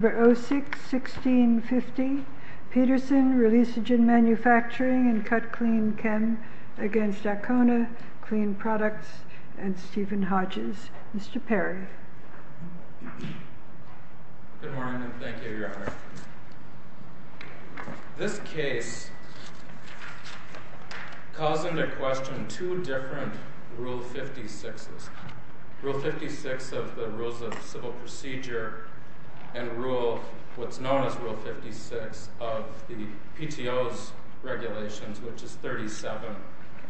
No. 06-1650 Petersen, Releasagen Manufacturing and CutClean Chem v. Akona Clean Products v. Stephen Hodges Mr. Perry Good morning and thank you, Your Honor. This case calls into question two different Rule 56s. And rule, what's known as Rule 56 of the PTO's regulations, which is 37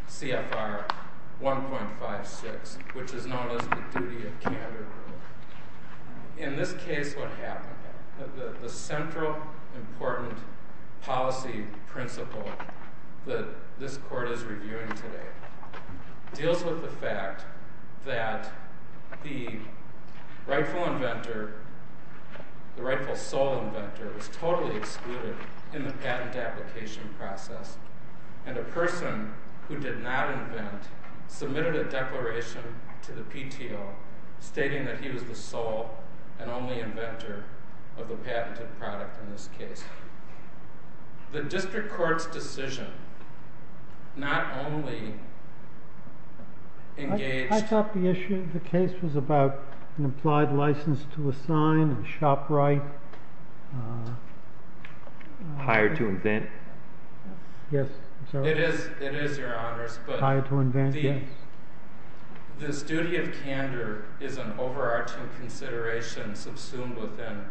CFR 1.56, which is known as the Duty of Candor Rule. In this case, what happened, the central important policy principle that this Court is reviewing today, deals with the fact that the rightful inventor, the rightful sole inventor, was totally excluded in the patent application process. And a person who did not invent submitted a declaration to the PTO stating that he was the sole and only inventor of the patented product in this case. The district court's decision not only engaged I thought the issue of the case was about an implied license to assign, shop right Hired to invent Yes It is, it is, Your Honors, but Hired to invent, yes The duty of candor is an overarching consideration subsumed within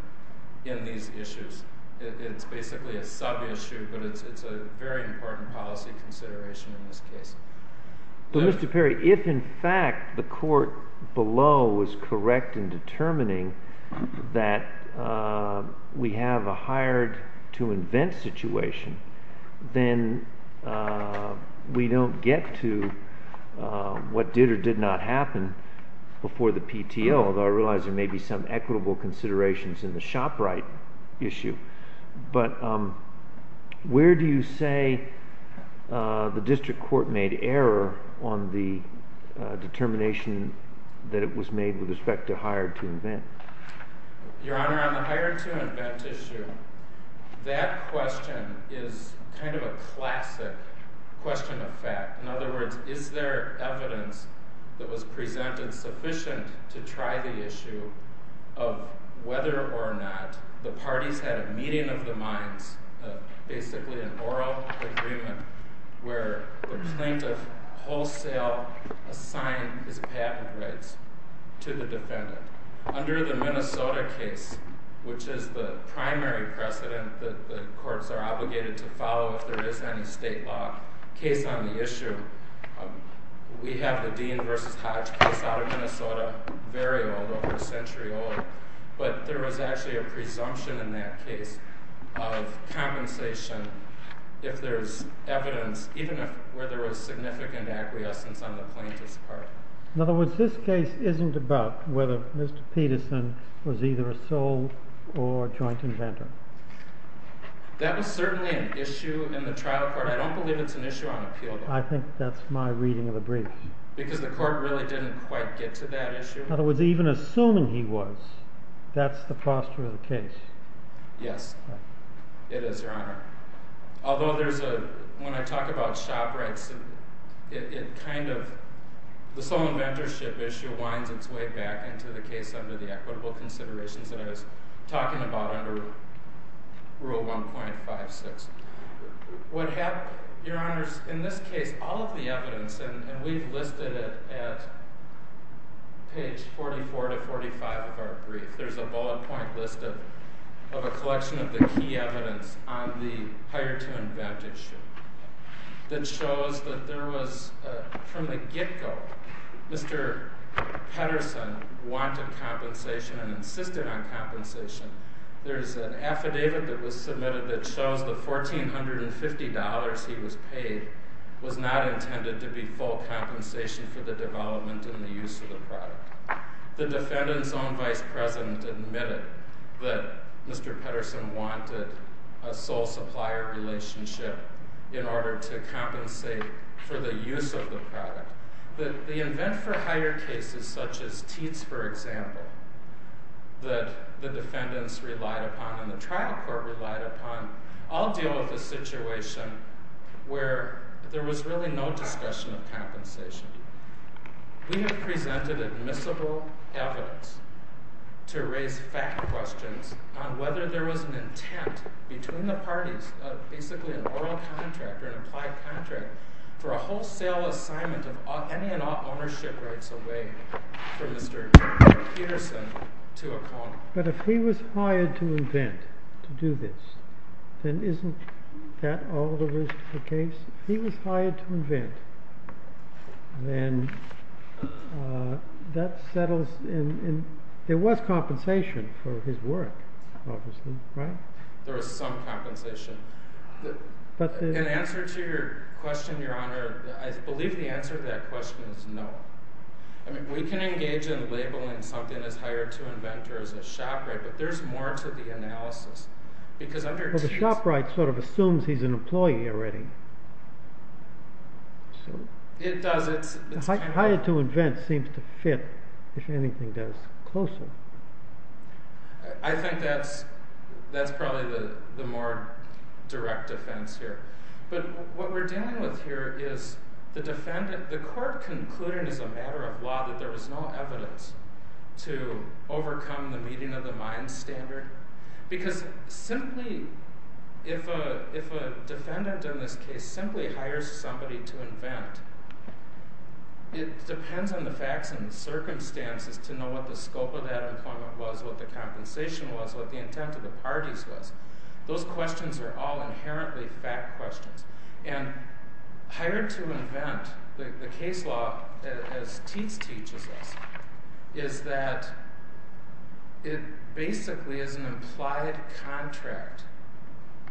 these issues. It's basically a sub-issue, but it's a very important policy consideration in this case. But Mr. Perry, if in fact the court below is correct in determining that we have a hired to invent situation, then we don't get to what did or did not happen before the PTO, although I realize there may be some equitable considerations in the shop right issue. But where do you say the district court made error on the determination that it was made with respect to hired to invent? Your Honor, on the hired to invent issue, that question is kind of a classic question of fact. In other words, is there evidence that was presented sufficient to try the issue of whether or not the parties had a meeting of the minds, basically an oral agreement, where the plaintiff wholesale assigned his patent rights to the defendant. Under the Minnesota case, which is the primary precedent that the courts are obligated to follow if there is any state law case on the issue, we have the Dean versus Hodge case out of Minnesota, very old, over a century old. But there was actually a presumption in that case of compensation if there's evidence, even if where there was significant acquiescence on the plaintiff's part. In other words, this case isn't about whether Mr. Peterson was either a sole or joint inventor. That was certainly an issue in the trial court. I don't believe it's an issue on appeal though. I think that's my reading of the brief. Because the court really didn't quite get to that issue. In other words, even assuming he was, that's the posture of the case. Yes, it is, Your Honor. Although when I talk about shop rights, the sole inventorship issue winds its way back into the case under the equitable considerations that I was talking about under Rule 1.56. Your Honor, in this case, all of the evidence, and we've listed it at page 44 to 45 of our brief, there's a bullet point list of a collection of the key evidence on the hire to inventorship that shows that there was, from the get-go, Mr. Peterson wanted compensation and insisted on compensation. There's an affidavit that was submitted that shows the $1,450 he was paid was not intended to be full compensation for the development and the use of the product. The defendant's own vice president admitted that Mr. Peterson wanted a sole supplier relationship in order to compensate for the use of the product. But the invent for hire cases, such as Teats, for example, that the defendants relied upon and the trial court relied upon all deal with the situation where there was really no discussion of compensation. We have presented admissible evidence to raise fact questions on whether there was an intent between the parties of basically an oral contract or an implied contract for a wholesale assignment of any and all ownership rights away from Mr. Peterson to a company. But if he was hired to invent, to do this, then isn't that all there is to the case? If he was hired to invent, then that settles in. There was compensation for his work, obviously, right? There was some compensation. In answer to your question, Your Honor, I believe the answer to that question is no. I mean, we can engage in labeling something as hired to invent or as a shopwright, but there's more to the analysis. Well, the shopwright sort of assumes he's an employee already. It does. Hired to invent seems to fit, if anything does, closer. I think that's probably the more direct offense here. But what we're dealing with here is the defendant, the court concluded as a matter of law that there was no evidence to overcome the meeting of the mine standard because simply, if a defendant in this case simply hires somebody to invent, it depends on the facts and the circumstances to know what the scope of that employment was, what the compensation was, what the intent of the parties was. Those questions are all inherently fact questions. Hired to invent, the case law, as Teats teaches us, is that it basically is an implied contract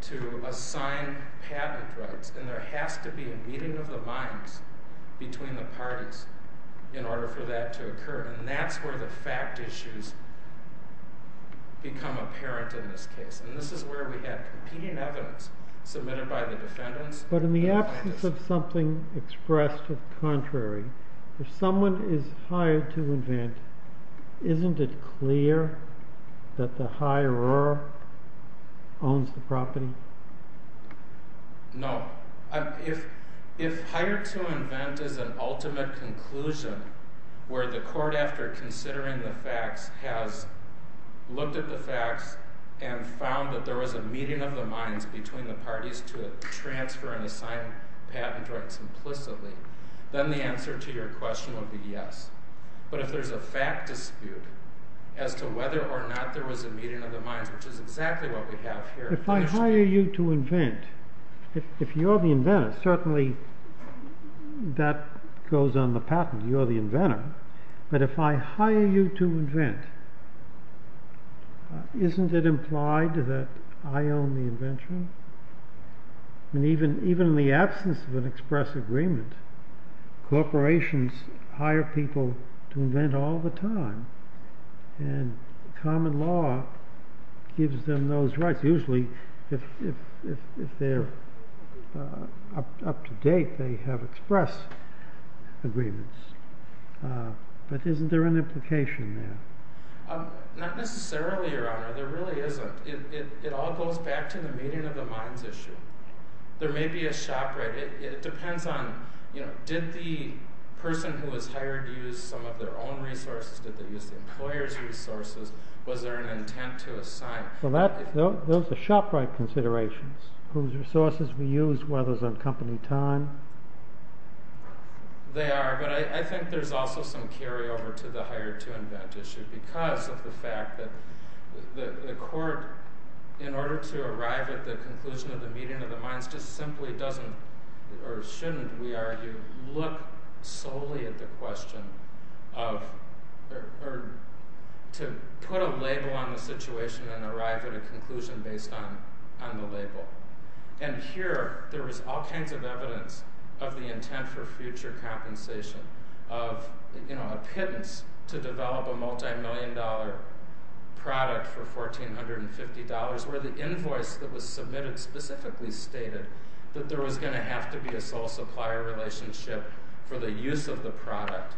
to assign patent rights, and there has to be a meeting of the mines between the parties in order for that to occur, and that's where the fact issues become apparent in this case. And this is where we have competing evidence submitted by the defendants. But in the absence of something expressed to the contrary, if someone is hired to invent, isn't it clear that the hirer owns the property? No. If hired to invent is an ultimate conclusion where the court, after considering the facts, has looked at the facts and found that there was a meeting of the mines between the parties to transfer and assign patent rights implicitly, then the answer to your question would be yes. But if there's a fact dispute as to whether or not there was a meeting of the mines, which is exactly what we have here... If I hire you to invent, if you're the inventor, certainly that goes on the patent, but if I hire you to invent, isn't it implied that I own the invention? And even in the absence of an express agreement, corporations hire people to invent all the time, and common law gives them those rights. Usually, if they're up to date, they have expressed agreements. But isn't there an implication there? Not necessarily, Your Honor. There really isn't. It all goes back to the meeting of the mines issue. There may be a shop, right? It depends on, did the person who was hired use some of their own resources? Did they use the employer's resources? Was there an intent to assign? So those are shop-right considerations, whose resources were used, whether it was on company time. They are, but I think there's also some carryover to the hire-to-invent issue because of the fact that the court, in order to arrive at the conclusion of the meeting of the mines, just simply doesn't, or shouldn't, we argue, look solely at the question of, or to put a label on the situation and arrive at a conclusion based on the label. And here, there was all kinds of evidence of the intent for future compensation, of a pittance to develop a multi-million dollar product for $1,450, where the invoice that was submitted specifically stated that there was going to have to be a sole supplier relationship for the use of the product.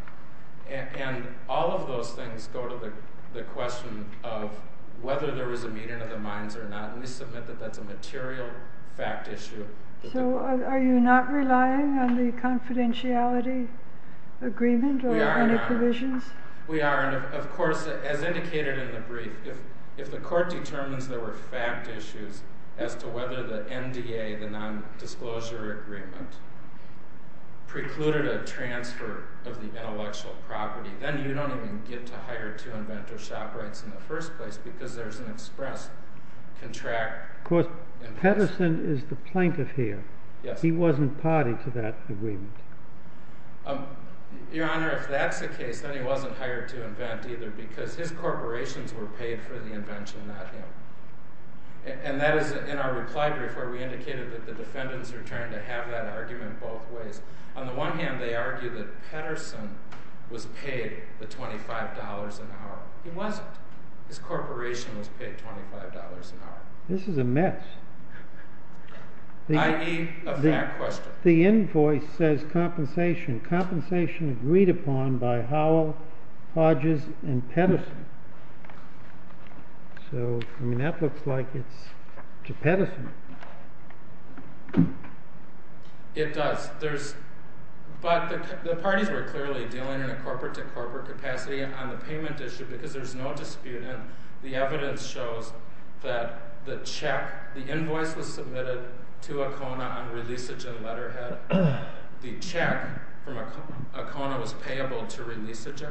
And all of those things go to the question of whether there was a meeting of the mines or not, and we submit that that's a material fact issue. So are you not relying on the confidentiality agreement or any provisions? We are, Your Honor. We are, and of course, as indicated in the brief, if the court determines there were fact issues as to whether the NDA, the non-disclosure agreement, precluded a transfer of the intellectual property, then you don't even get to hire to invent or shop rights in the first place because there's an express contract. Of course, Pedersen is the plaintiff here. He wasn't party to that agreement. Your Honor, if that's the case, then he wasn't hired to invent either because his corporations were paid for the invention, not him. And that is in our reply brief where we indicated that the defendants returned to have that argument both ways. On the one hand, they argue that Pedersen was paid the $25 an hour. He wasn't. His corporation was paid $25 an hour. This is a mess. I.e., a fact question. The invoice says compensation. Compensation agreed upon by Howell, Hodges, and Pedersen. So, I mean, that looks like it's to Pedersen. It does. But the parties were clearly dealing in a corporate-to-corporate capacity on the payment issue because there's no dispute in it. The evidence shows that the check, the invoice was submitted to Acona on releasage and letterhead. The check from Acona was payable to releasage.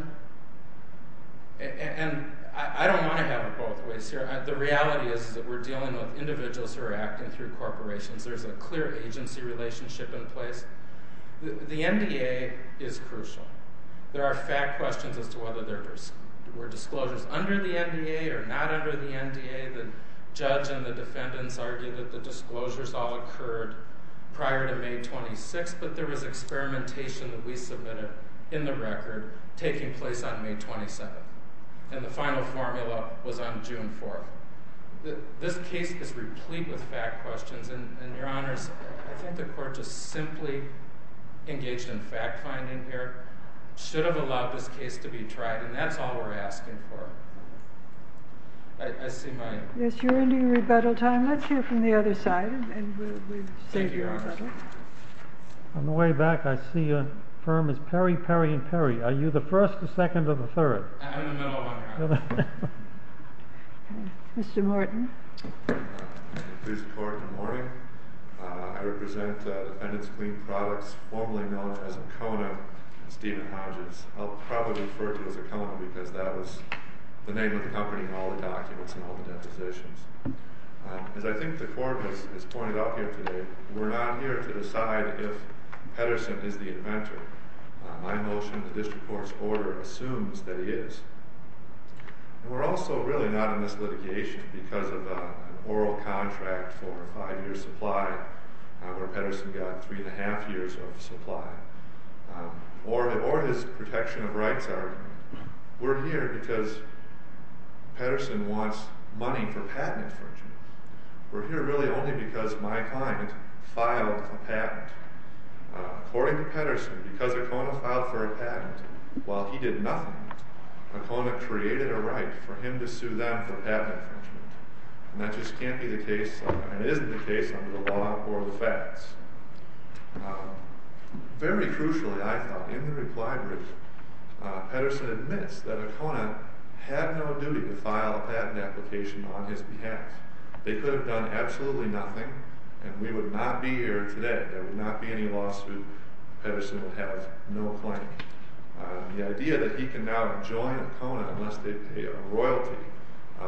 And I don't want to have it both ways here. The reality is that we're dealing with individuals who are acting through corporations. There's a clear agency relationship in place. The NDA is crucial. There are fact questions as to whether there were disclosures under the NDA or not under the NDA. The judge and the defendants argue that the disclosures all occurred prior to May 26th, but there was experimentation that we submitted in the record taking place on May 27th. And the final formula was on June 4th. This case is replete with fact questions, and, Your Honors, I think the Court just simply engaged in fact-finding here. It should have allowed this case to be tried, and that's all we're asking for. I see my... Yes, you're into your rebuttal time. Thank you, Your Honors. On the way back, I see your firm is Perry, Perry, and Perry. Are you the first, the second, or the third? I'm in the middle of one, Your Honor. Mr. Morton. Please record the morning. I represent the Defendants Clean Products, formerly known as Acona, and Stephen Hodges. I'll probably refer to you as Acona because that was the name of the company in all the documents and all the depositions. As I think the Court has pointed out here today, we're not here to decide if Pedersen is the inventor. My motion, the district court's order, assumes that he is. And we're also really not in this litigation because of an oral contract for a five-year supply, where Pedersen got three and a half years of supply, or his protection of rights argument. We're here because Pedersen wants money for patent infringement. We're here really only because my client filed a patent. According to Pedersen, because Acona filed for a patent while he did nothing, Acona created a right for him to sue them for patent infringement. And that just can't be the case, and isn't the case, under the law or the facts. Very crucially, I thought, in the reply brief, Pedersen admits that Acona had no duty to file a patent application on his behalf. They could have done absolutely nothing, and we would not be here today. There would not be any lawsuit. Pedersen would have no claim. The idea that he can now join Acona unless they pay a royalty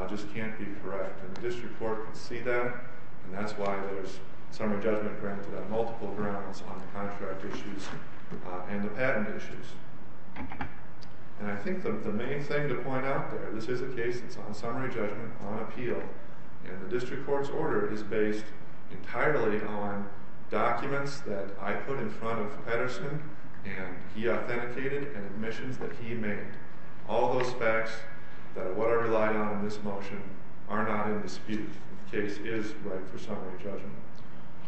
just can't be correct. And the district court can see that, and that's why there's summary judgment granted on multiple grounds on the contract issues and the patent issues. And I think the main thing to point out there, this is a case that's on summary judgment, on appeal. And the district court's order is based entirely on documents that I put in front of Pedersen, and he authenticated, and admissions that he made. All those facts, that what I relied on in this motion, are not in dispute. The case is right for summary judgment.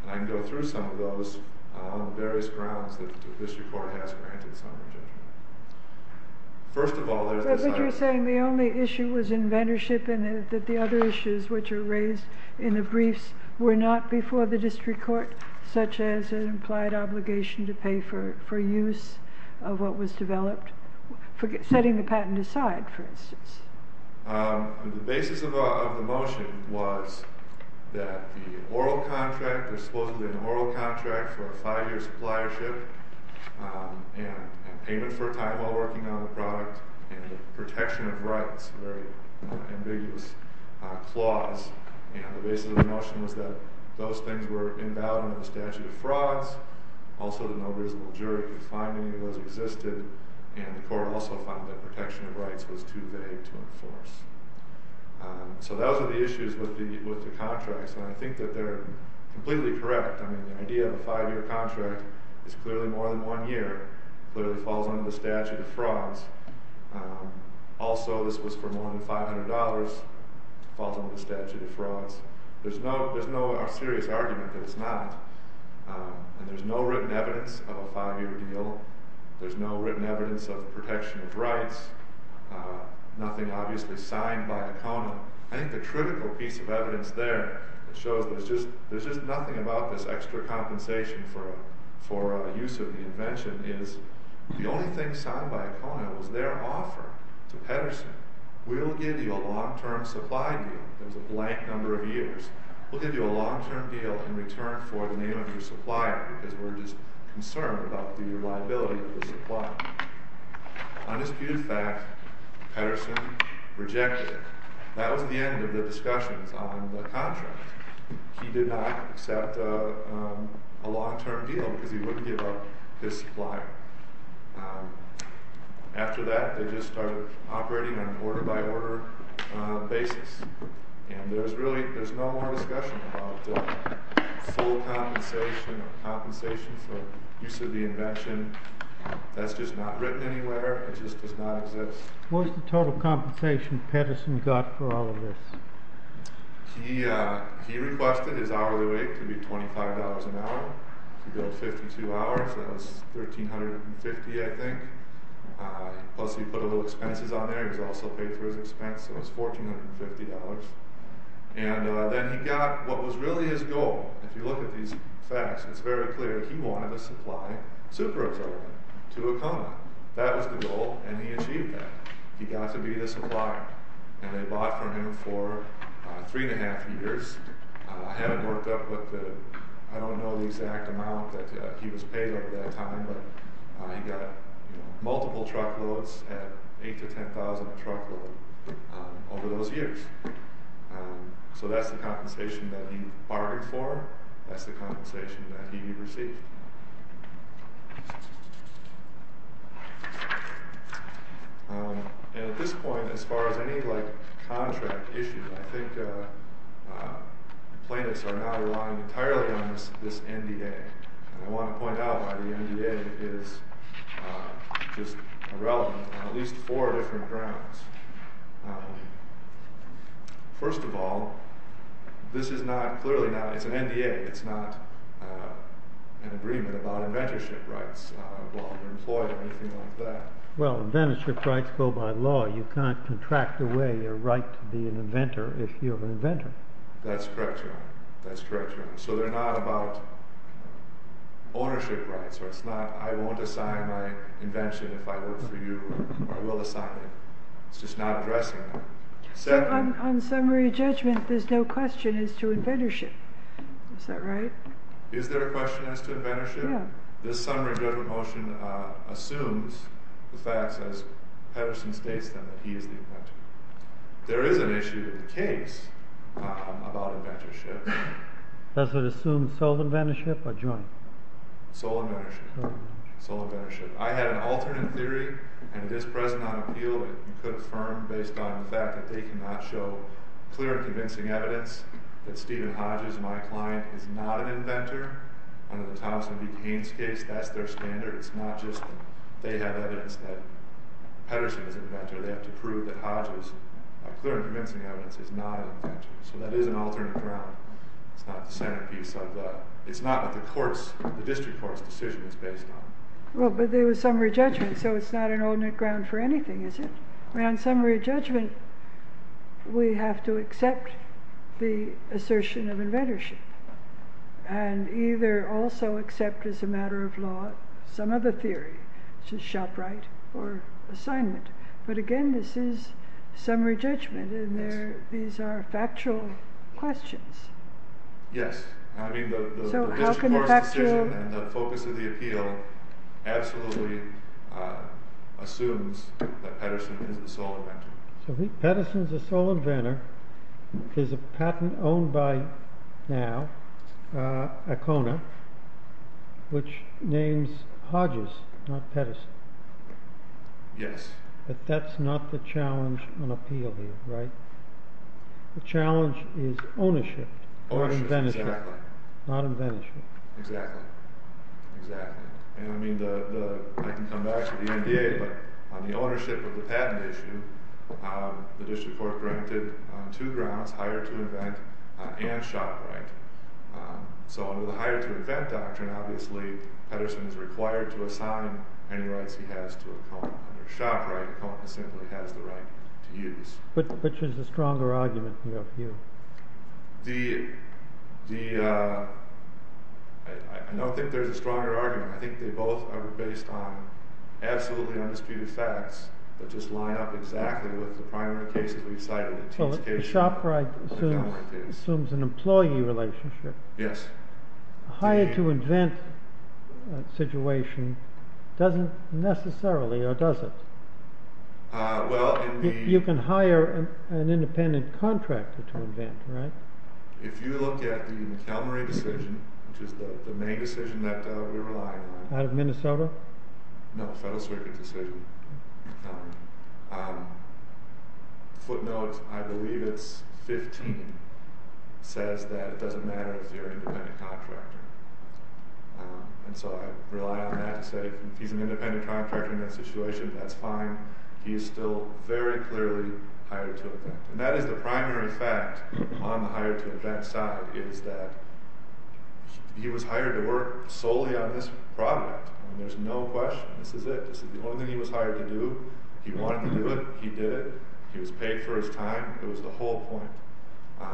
And I can go through some of those on various grounds that the district court has granted summary judgment. First of all, there's this item. The only issue was inventorship, and the other issues which are raised in the briefs were not before the district court, such as an implied obligation to pay for use of what was developed. Setting the patent aside, for instance. The basis of the motion was that the oral contract, there's supposedly an oral contract for a five-year suppliership, and payment for a time while working on the product, and the protection of rights, a very ambiguous clause. And the basis of the motion was that those things were endowed under the statute of frauds. Also, the no visible jury could find any of those existed, and the court also found that protection of rights was too vague to enforce. So those are the issues with the contracts, and I think that they're completely correct. I mean, the idea of a five-year contract is clearly more than one year, but it falls under the statute of frauds. Also, this was for more than $500, falls under the statute of frauds. There's no serious argument that it's not. And there's no written evidence of a five-year deal. There's no written evidence of protection of rights. Nothing obviously signed by a counter. I think the critical piece of evidence there shows there's just nothing about this extra compensation for use of the invention is the only thing signed by a counter was their offer to Pettersen. We'll give you a long-term supply deal. It was a blank number of years. We'll give you a long-term deal in return for the name of your supplier, because we're just concerned about the reliability of the supply. Undisputed fact, Pettersen rejected it. That was the end of the discussions on the contract. He did not accept a long-term deal, because he wouldn't give up his supplier. After that, they just started operating on an order-by-order basis. And there's no more discussion about the full compensation or compensation for use of the invention. That's just not written anywhere. It just does not exist. What's the total compensation Pettersen got for all of this? He requested his hourly rate to be $25 an hour. He billed 52 hours. That was $1,350, I think. Plus, he put a little expenses on there. He was also paid for his expense, so it was $1,450. And then he got what was really his goal. If you look at these facts, it's very clear. He wanted to supply super-oxygen to Oklahoma. That was the goal, and he achieved that. He got to be the supplier. And they bought from him for three and a half years. I haven't worked up with the exact amount that he was paid over that time, but he got multiple truckloads at $8,000 to $10,000 a truckload over those years. So that's the compensation that he bargained for. That's the compensation that he received. At this point, as far as any contract issue, I think plaintiffs are not relying entirely on this NDA. I want to point out why the NDA is just irrelevant on at least four different grounds. First of all, this is not clearly an NDA. It's not an NDA. It's not an agreement about inventorship rights. Well, inventorship rights go by law. You can't contract away your right to be an inventor if you're an inventor. That's correct, Your Honor. So they're not about ownership rights. It's not, I won't assign my invention if I work for you, or I will assign it. It's just not addressing that. On summary judgment, there's no question as to inventorship. Is that right? Is there a question as to inventorship? Yeah. This summary judgment motion assumes the facts as Pedersen states them, that he is the inventor. There is an issue with the case about inventorship. Does it assume sole inventorship or joint? Sole inventorship. Sole inventorship. I had an alternate theory, and it is present on appeal, that you could affirm based on the fact that they cannot show clear and convincing evidence that Stephen Hodges, my client, is not an inventor. Under the Thompson v. Cain's case, that's their standard. It's not just they have evidence that Pedersen is an inventor. They have to prove that Hodges, clear and convincing evidence, is not an inventor. So that is an alternate ground. It's not the centerpiece of the, it's not what the court's, the district court's decision is based on. Well, but there was summary judgment, so it's not an alternate ground for anything, is it? On summary judgment, we have to accept the assertion of inventorship and either also accept as a matter of law some other theory, such as shop right or assignment. But again, this is summary judgment, and these are factual questions. Yes. I mean, the district court's decision and the focus of the appeal absolutely assumes that Pedersen is the sole inventor. So Pedersen is the sole inventor. There's a patent owned by now, ACONA, which names Hodges, not Pedersen. Yes. But that's not the challenge on appeal here, right? The challenge is ownership, not inventorship. Ownership, exactly. Not inventorship. Exactly. And, I mean, I can come back to the NDA, but on the ownership of the patent issue, the district court granted two grounds, hire to invent and shop right. So under the hire to invent doctrine, obviously, Pedersen is required to assign any rights he has to ACONA. Under shop right, ACONA simply has the right to use. Which is the stronger argument in your view? The, I don't think there's a stronger argument. I think they both are based on absolutely undisputed facts that just line up exactly with the primary case that we cited. The shop right assumes an employee relationship. Yes. Hire to invent situation doesn't necessarily, or does it? You can hire an independent contractor to invent, right? If you look at the McElmurray decision, which is the main decision that we rely on. Out of Minnesota? No, the Federal Circuit decision. Footnote, I believe it's 15, says that it doesn't matter if you're an independent contractor. And so I rely on that to say, if he's an independent contractor in that situation, that's fine. He is still very clearly hired to invent. And that is the primary fact on the hire to invent side, is that he was hired to work solely on this product. There's no question, this is it. This is the only thing he was hired to do. He wanted to do it, he did it. He was paid for his time. It was the whole point.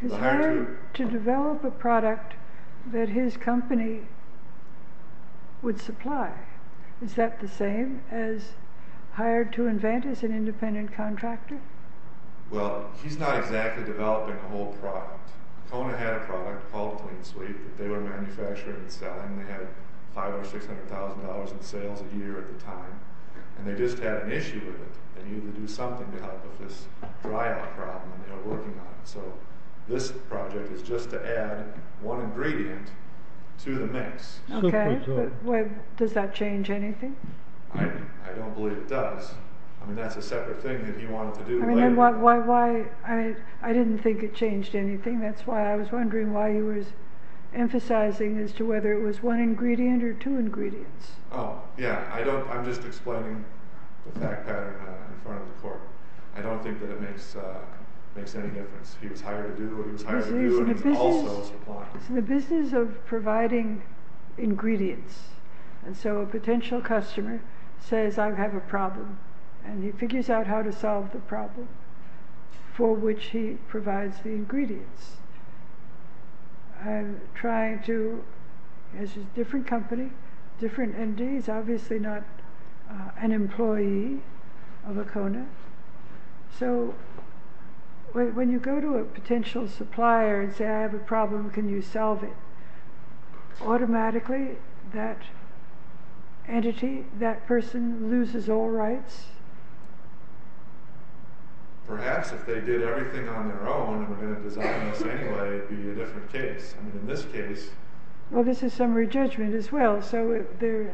He's hired to develop a product that his company would supply. Is that the same as hired to invent as an independent contractor? Well, he's not exactly developing a whole product. Kona had a product called Clean Sweep that they were manufacturing and selling. They had $500,000 or $600,000 in sales a year at the time. And they just had an issue with it. They needed to do something to help with this dry out problem they were working on. So this project is just to add one ingredient to the mix. Okay, but does that change anything? I don't believe it does. I mean, that's a separate thing that he wanted to do later. I didn't think it changed anything. That's why I was wondering why you were emphasizing as to whether it was one ingredient or two ingredients. Oh, yeah, I'm just explaining the fact pattern in front of the court. I don't think that it makes any difference. He was hired to do what he was hired to do and also supply. It's in the business of providing ingredients. And so a potential customer says, I have a problem. And he figures out how to solve the problem for which he provides the ingredients. I'm trying to, as a different company, different entity. He's obviously not an employee of ACONA. So when you go to a potential supplier and say, I have a problem. Can you solve it? Automatically, that entity, that person loses all rights. Perhaps if they did everything on their own and were going to design this anyway, it would be a different case. I mean, in this case. Well, this is summary judgment as well. So there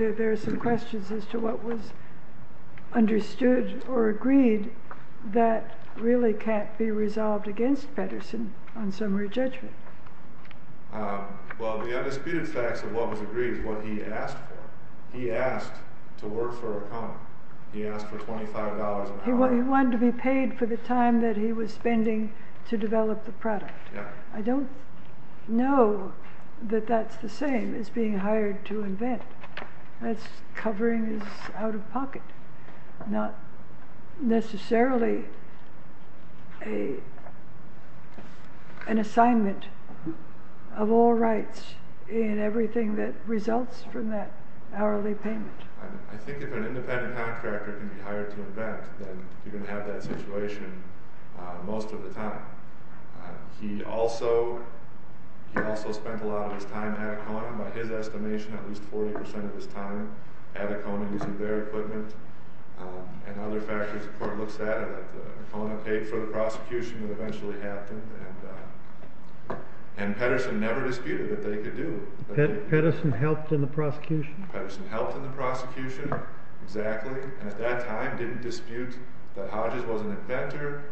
are some questions as to what was understood or agreed that really can't be resolved against Patterson on summary judgment. Well, the undisputed facts of what was agreed is what he asked for. He asked for $25. He wanted to be paid for the time that he was spending to develop the product. I don't know that that's the same as being hired to invent. That's covering his out of pocket, not necessarily an assignment of all rights in everything that results from that hourly payment. I think if an independent contractor can be hired to invent, then you're going to have that situation most of the time. He also spent a lot of his time at ACONA, by his estimation, at least 40% of his time at ACONA using their equipment and other factors. The court looks at it. ACONA paid for the prosecution. It eventually happened. And Patterson never disputed that they could do it. Patterson helped in the prosecution? Patterson helped in the prosecution, exactly, and at that time didn't dispute that Hodges was an inventor.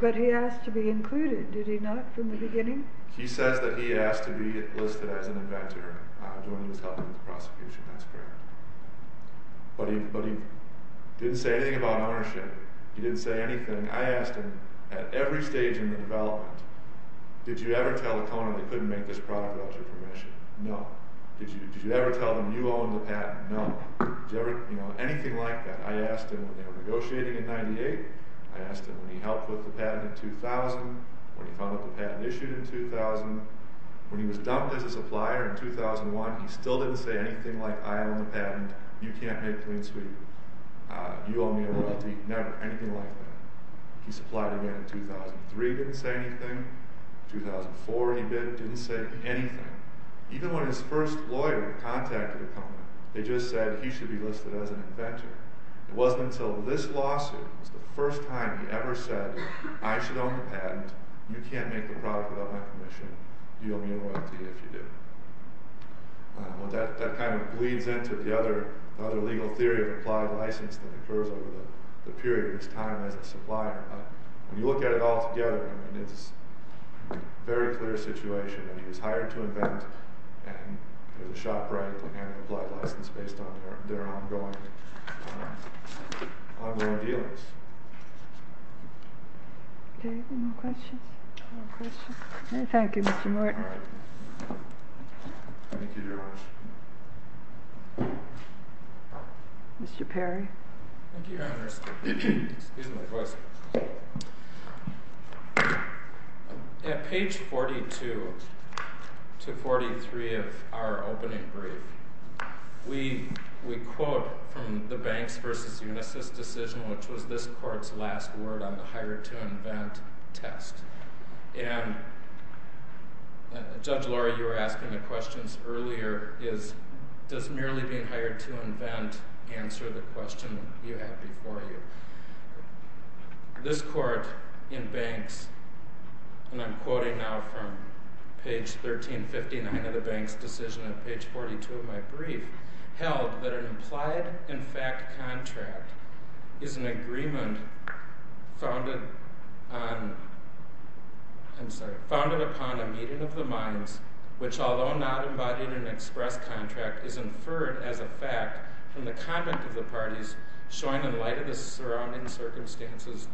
But he asked to be included, did he not, from the beginning? He says that he asked to be listed as an inventor when he was helping with the prosecution. That's correct. But he didn't say anything about ownership. He didn't say anything. I asked him at every stage in the development, did you ever tell ACONA they couldn't make this product without your permission? No. Did you ever tell them you own the patent? No. Anything like that. I asked him when they were negotiating in 1998. I asked him when he helped with the patent in 2000, when he found out the patent issued in 2000. When he was dumped as a supplier in 2001, he still didn't say anything like, I own the patent, you can't make Green Suite. You owe me a royalty. Never. Anything like that. He supplied again in 2003, didn't say anything. 2004, he didn't say anything. Even when his first lawyer contacted the company, they just said he should be listed as an inventor. It wasn't until this lawsuit was the first time he ever said, I should own the patent, you can't make the product without my permission, you owe me a royalty if you do. That kind of bleeds into the other legal theory of applied license that occurs over the period of his time as a supplier. When you look at it all together, it's a very clear situation. He was hired to invent, and it was shot right at the hand of the applied license based on their ongoing dealings. Any questions? No questions. Thank you, Mr. Morton. Thank you very much. Mr. Perry. Thank you, Your Honor. Excuse my question. At page 42 to 43 of our opening brief, we quote from the Banks v. Unisys decision, which was this court's last word on the hired-to-invent test. Judge Lora, you were asking the questions earlier. Does merely being hired to invent answer the question you have before you? This court in Banks, and I'm quoting now from page 1359 of the Banks decision at page 42 of my brief, held that an implied-in-fact contract is an agreement founded upon a meeting of the minds which, although not embodied in an express contract, is inferred as a fact from the comment of the parties showing in light of the surrounding circumstances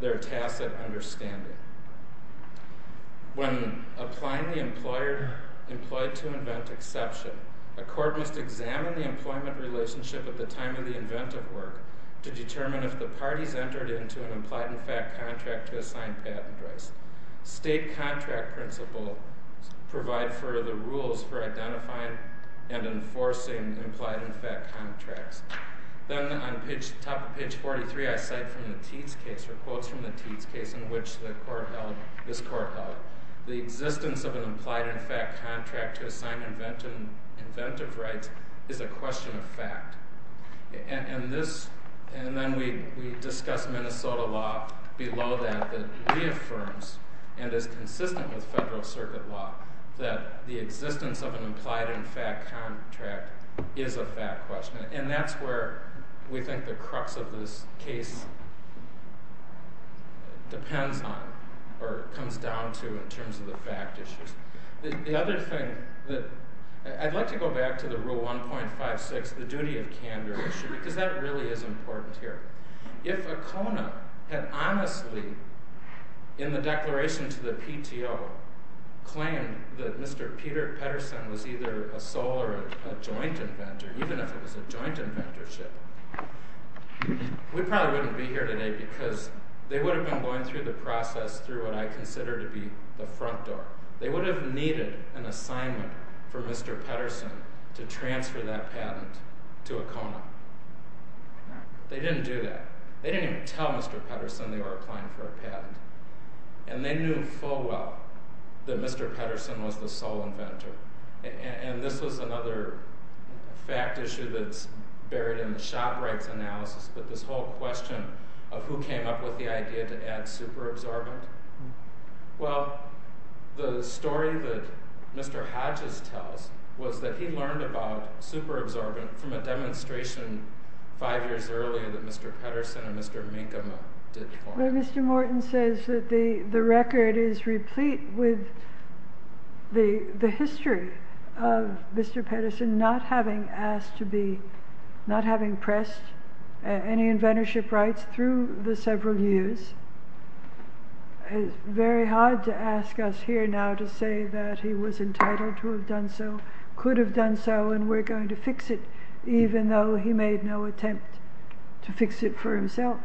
their tacit understanding. When applying the employer-employed-to-invent exception, a court must examine the employment relationship at the time of the inventive work to determine if the parties entered into an implied-in-fact contract to assign patent rights. State contract principles provide for the rules for identifying and enforcing implied-in-fact contracts. Then, on top of page 43, I cite from the Teats case, or quotes from the Teats case in which this court held, the existence of an implied-in-fact contract to assign inventive rights is a question of fact. And then we discuss Minnesota law below that, that reaffirms, and is consistent with federal circuit law, that the existence of an implied-in-fact contract is a fact question. And that's where we think the crux of this case depends on, or comes down to, in terms of the fact issues. The other thing that, I'd like to go back to the Rule 1.56, the duty of candor issue, because that really is important here. If Acona had honestly, in the declaration to the PTO, claimed that Mr. Peter Pedersen was either a sole or a joint inventor, even if it was a joint inventorship, we probably wouldn't be here today, because they would have been going through the process through what I consider to be the front door. They would have needed an assignment for Mr. Pedersen to transfer that patent to Acona. They didn't do that. They didn't even tell Mr. Pedersen they were applying for a patent. And they knew full well that Mr. Pedersen was the sole inventor. And this was another fact issue that's buried in the shop rights analysis, but this whole question of who came up with the idea to add superabsorbent. Well, the story that Mr. Hatches tells was that he learned about superabsorbent from a demonstration five years earlier that Mr. Pedersen and Mr. Minkama did for him. Well, Mr. Morton says that the record is replete with the history of Mr. Pedersen not having asked to be, not having pressed any inventorship rights through the several years. It's very hard to ask us here now to say that he was entitled to have done so, could have done so, and we're going to fix it, even though he made no attempt to fix it for himself.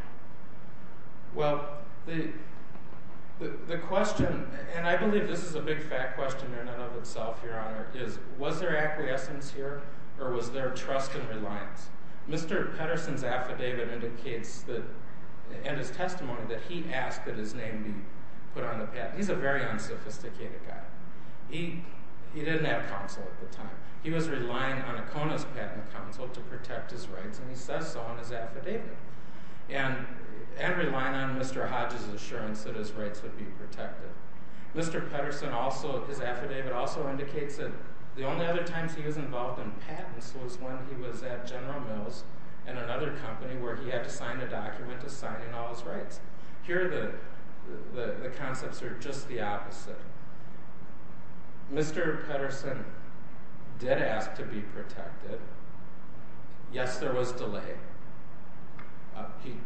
Well, the question, and I believe this is a big fact question in and of itself, Your Honor, is was there acquiescence here or was there trust and reliance? Mr. Pedersen's affidavit indicates that, and his testimony, that he asked that his name be put on the patent. He's a very unsophisticated guy. He didn't have counsel at the time. He was relying on Acona's patent counsel to protect his rights, and he says so in his affidavit, and relying on Mr. Hatches' assurance that his rights would be protected. Mr. Pedersen also, his affidavit also indicates that the only other times he was involved in patents was when he was at General Mills in another company where he had to sign a document assigning all his rights. Here the concepts are just the opposite. Mr. Pedersen did ask to be protected. Yes, there was delay.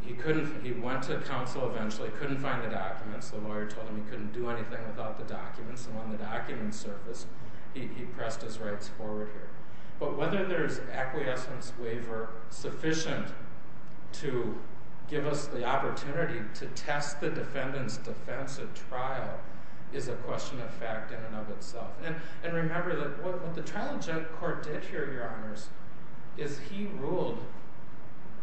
He couldn't, he went to counsel eventually, couldn't find the documents. The lawyer told him he couldn't do anything without the documents, and when the documents surfaced, he pressed his rights forward here. But whether there's acquiescence waiver sufficient to give us the opportunity to test the defendant's defense at trial is a question of fact in and of itself. And remember that what the trial court did here, Your Honors, is he ruled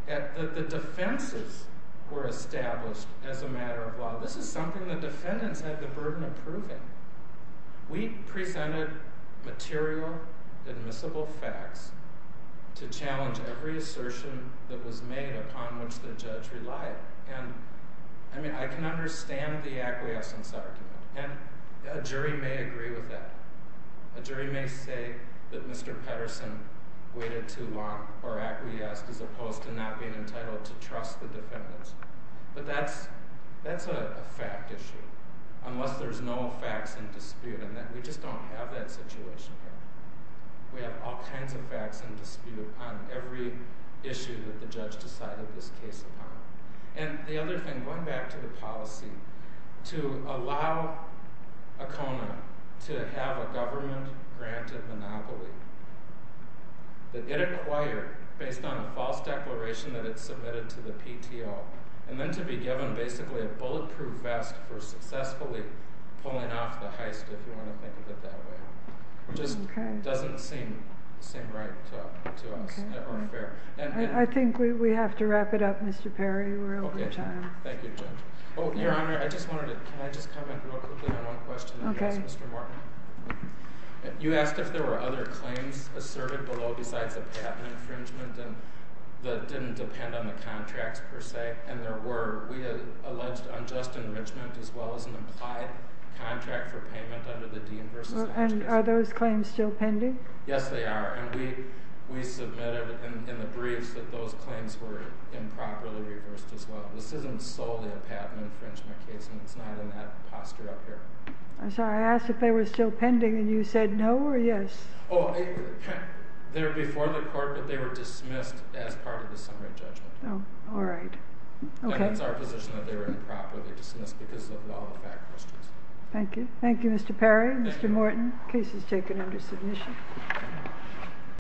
that the defenses were established as a matter of, well, this is something the defendants have the burden of proving. We presented material, admissible facts to challenge every assertion that was made upon which the judge relied. And, I mean, I can understand the acquiescence argument, and a jury may agree with that. A jury may say that Mr. Pedersen waited too long or acquiesced as opposed to not being entitled to trust the defendants. But that's a fact issue, unless there's no facts in dispute, and we just don't have that situation here. We have all kinds of facts in dispute on every issue that the judge decided this case upon. And the other thing, going back to the policy, to allow ACONA to have a government-granted monopoly that it acquired based on a false declaration that it submitted to the PTO, and then to be given basically a bulletproof vest for successfully pulling off the heist, if you want to think of it that way. It just doesn't seem right to us, or fair. I think we have to wrap it up, Mr. Perry. We're over time. Thank you, Judge. Oh, Your Honor, can I just comment real quickly on one question that you asked Mr. Martin? Okay. You asked if there were other claims asserted below besides a patent infringement that didn't depend on the contracts per se. And there were. We alleged unjust enrichment as well as an implied contract for payment under the Dean v. Lynch case. And are those claims still pending? Yes, they are. And we submitted in the briefs that those claims were improperly reversed as well. This isn't solely a patent infringement case, and it's not in that posture up here. I'm sorry, I asked if they were still pending, and you said no or yes. Oh, they were before the court, but they were dismissed as part of the summary judgment. Oh, all right. Okay. And it's our position that they were improperly dismissed because of the law of the fact questions. Thank you. Thank you, Mr. Perry, Mr. Morton. Case is taken under submission.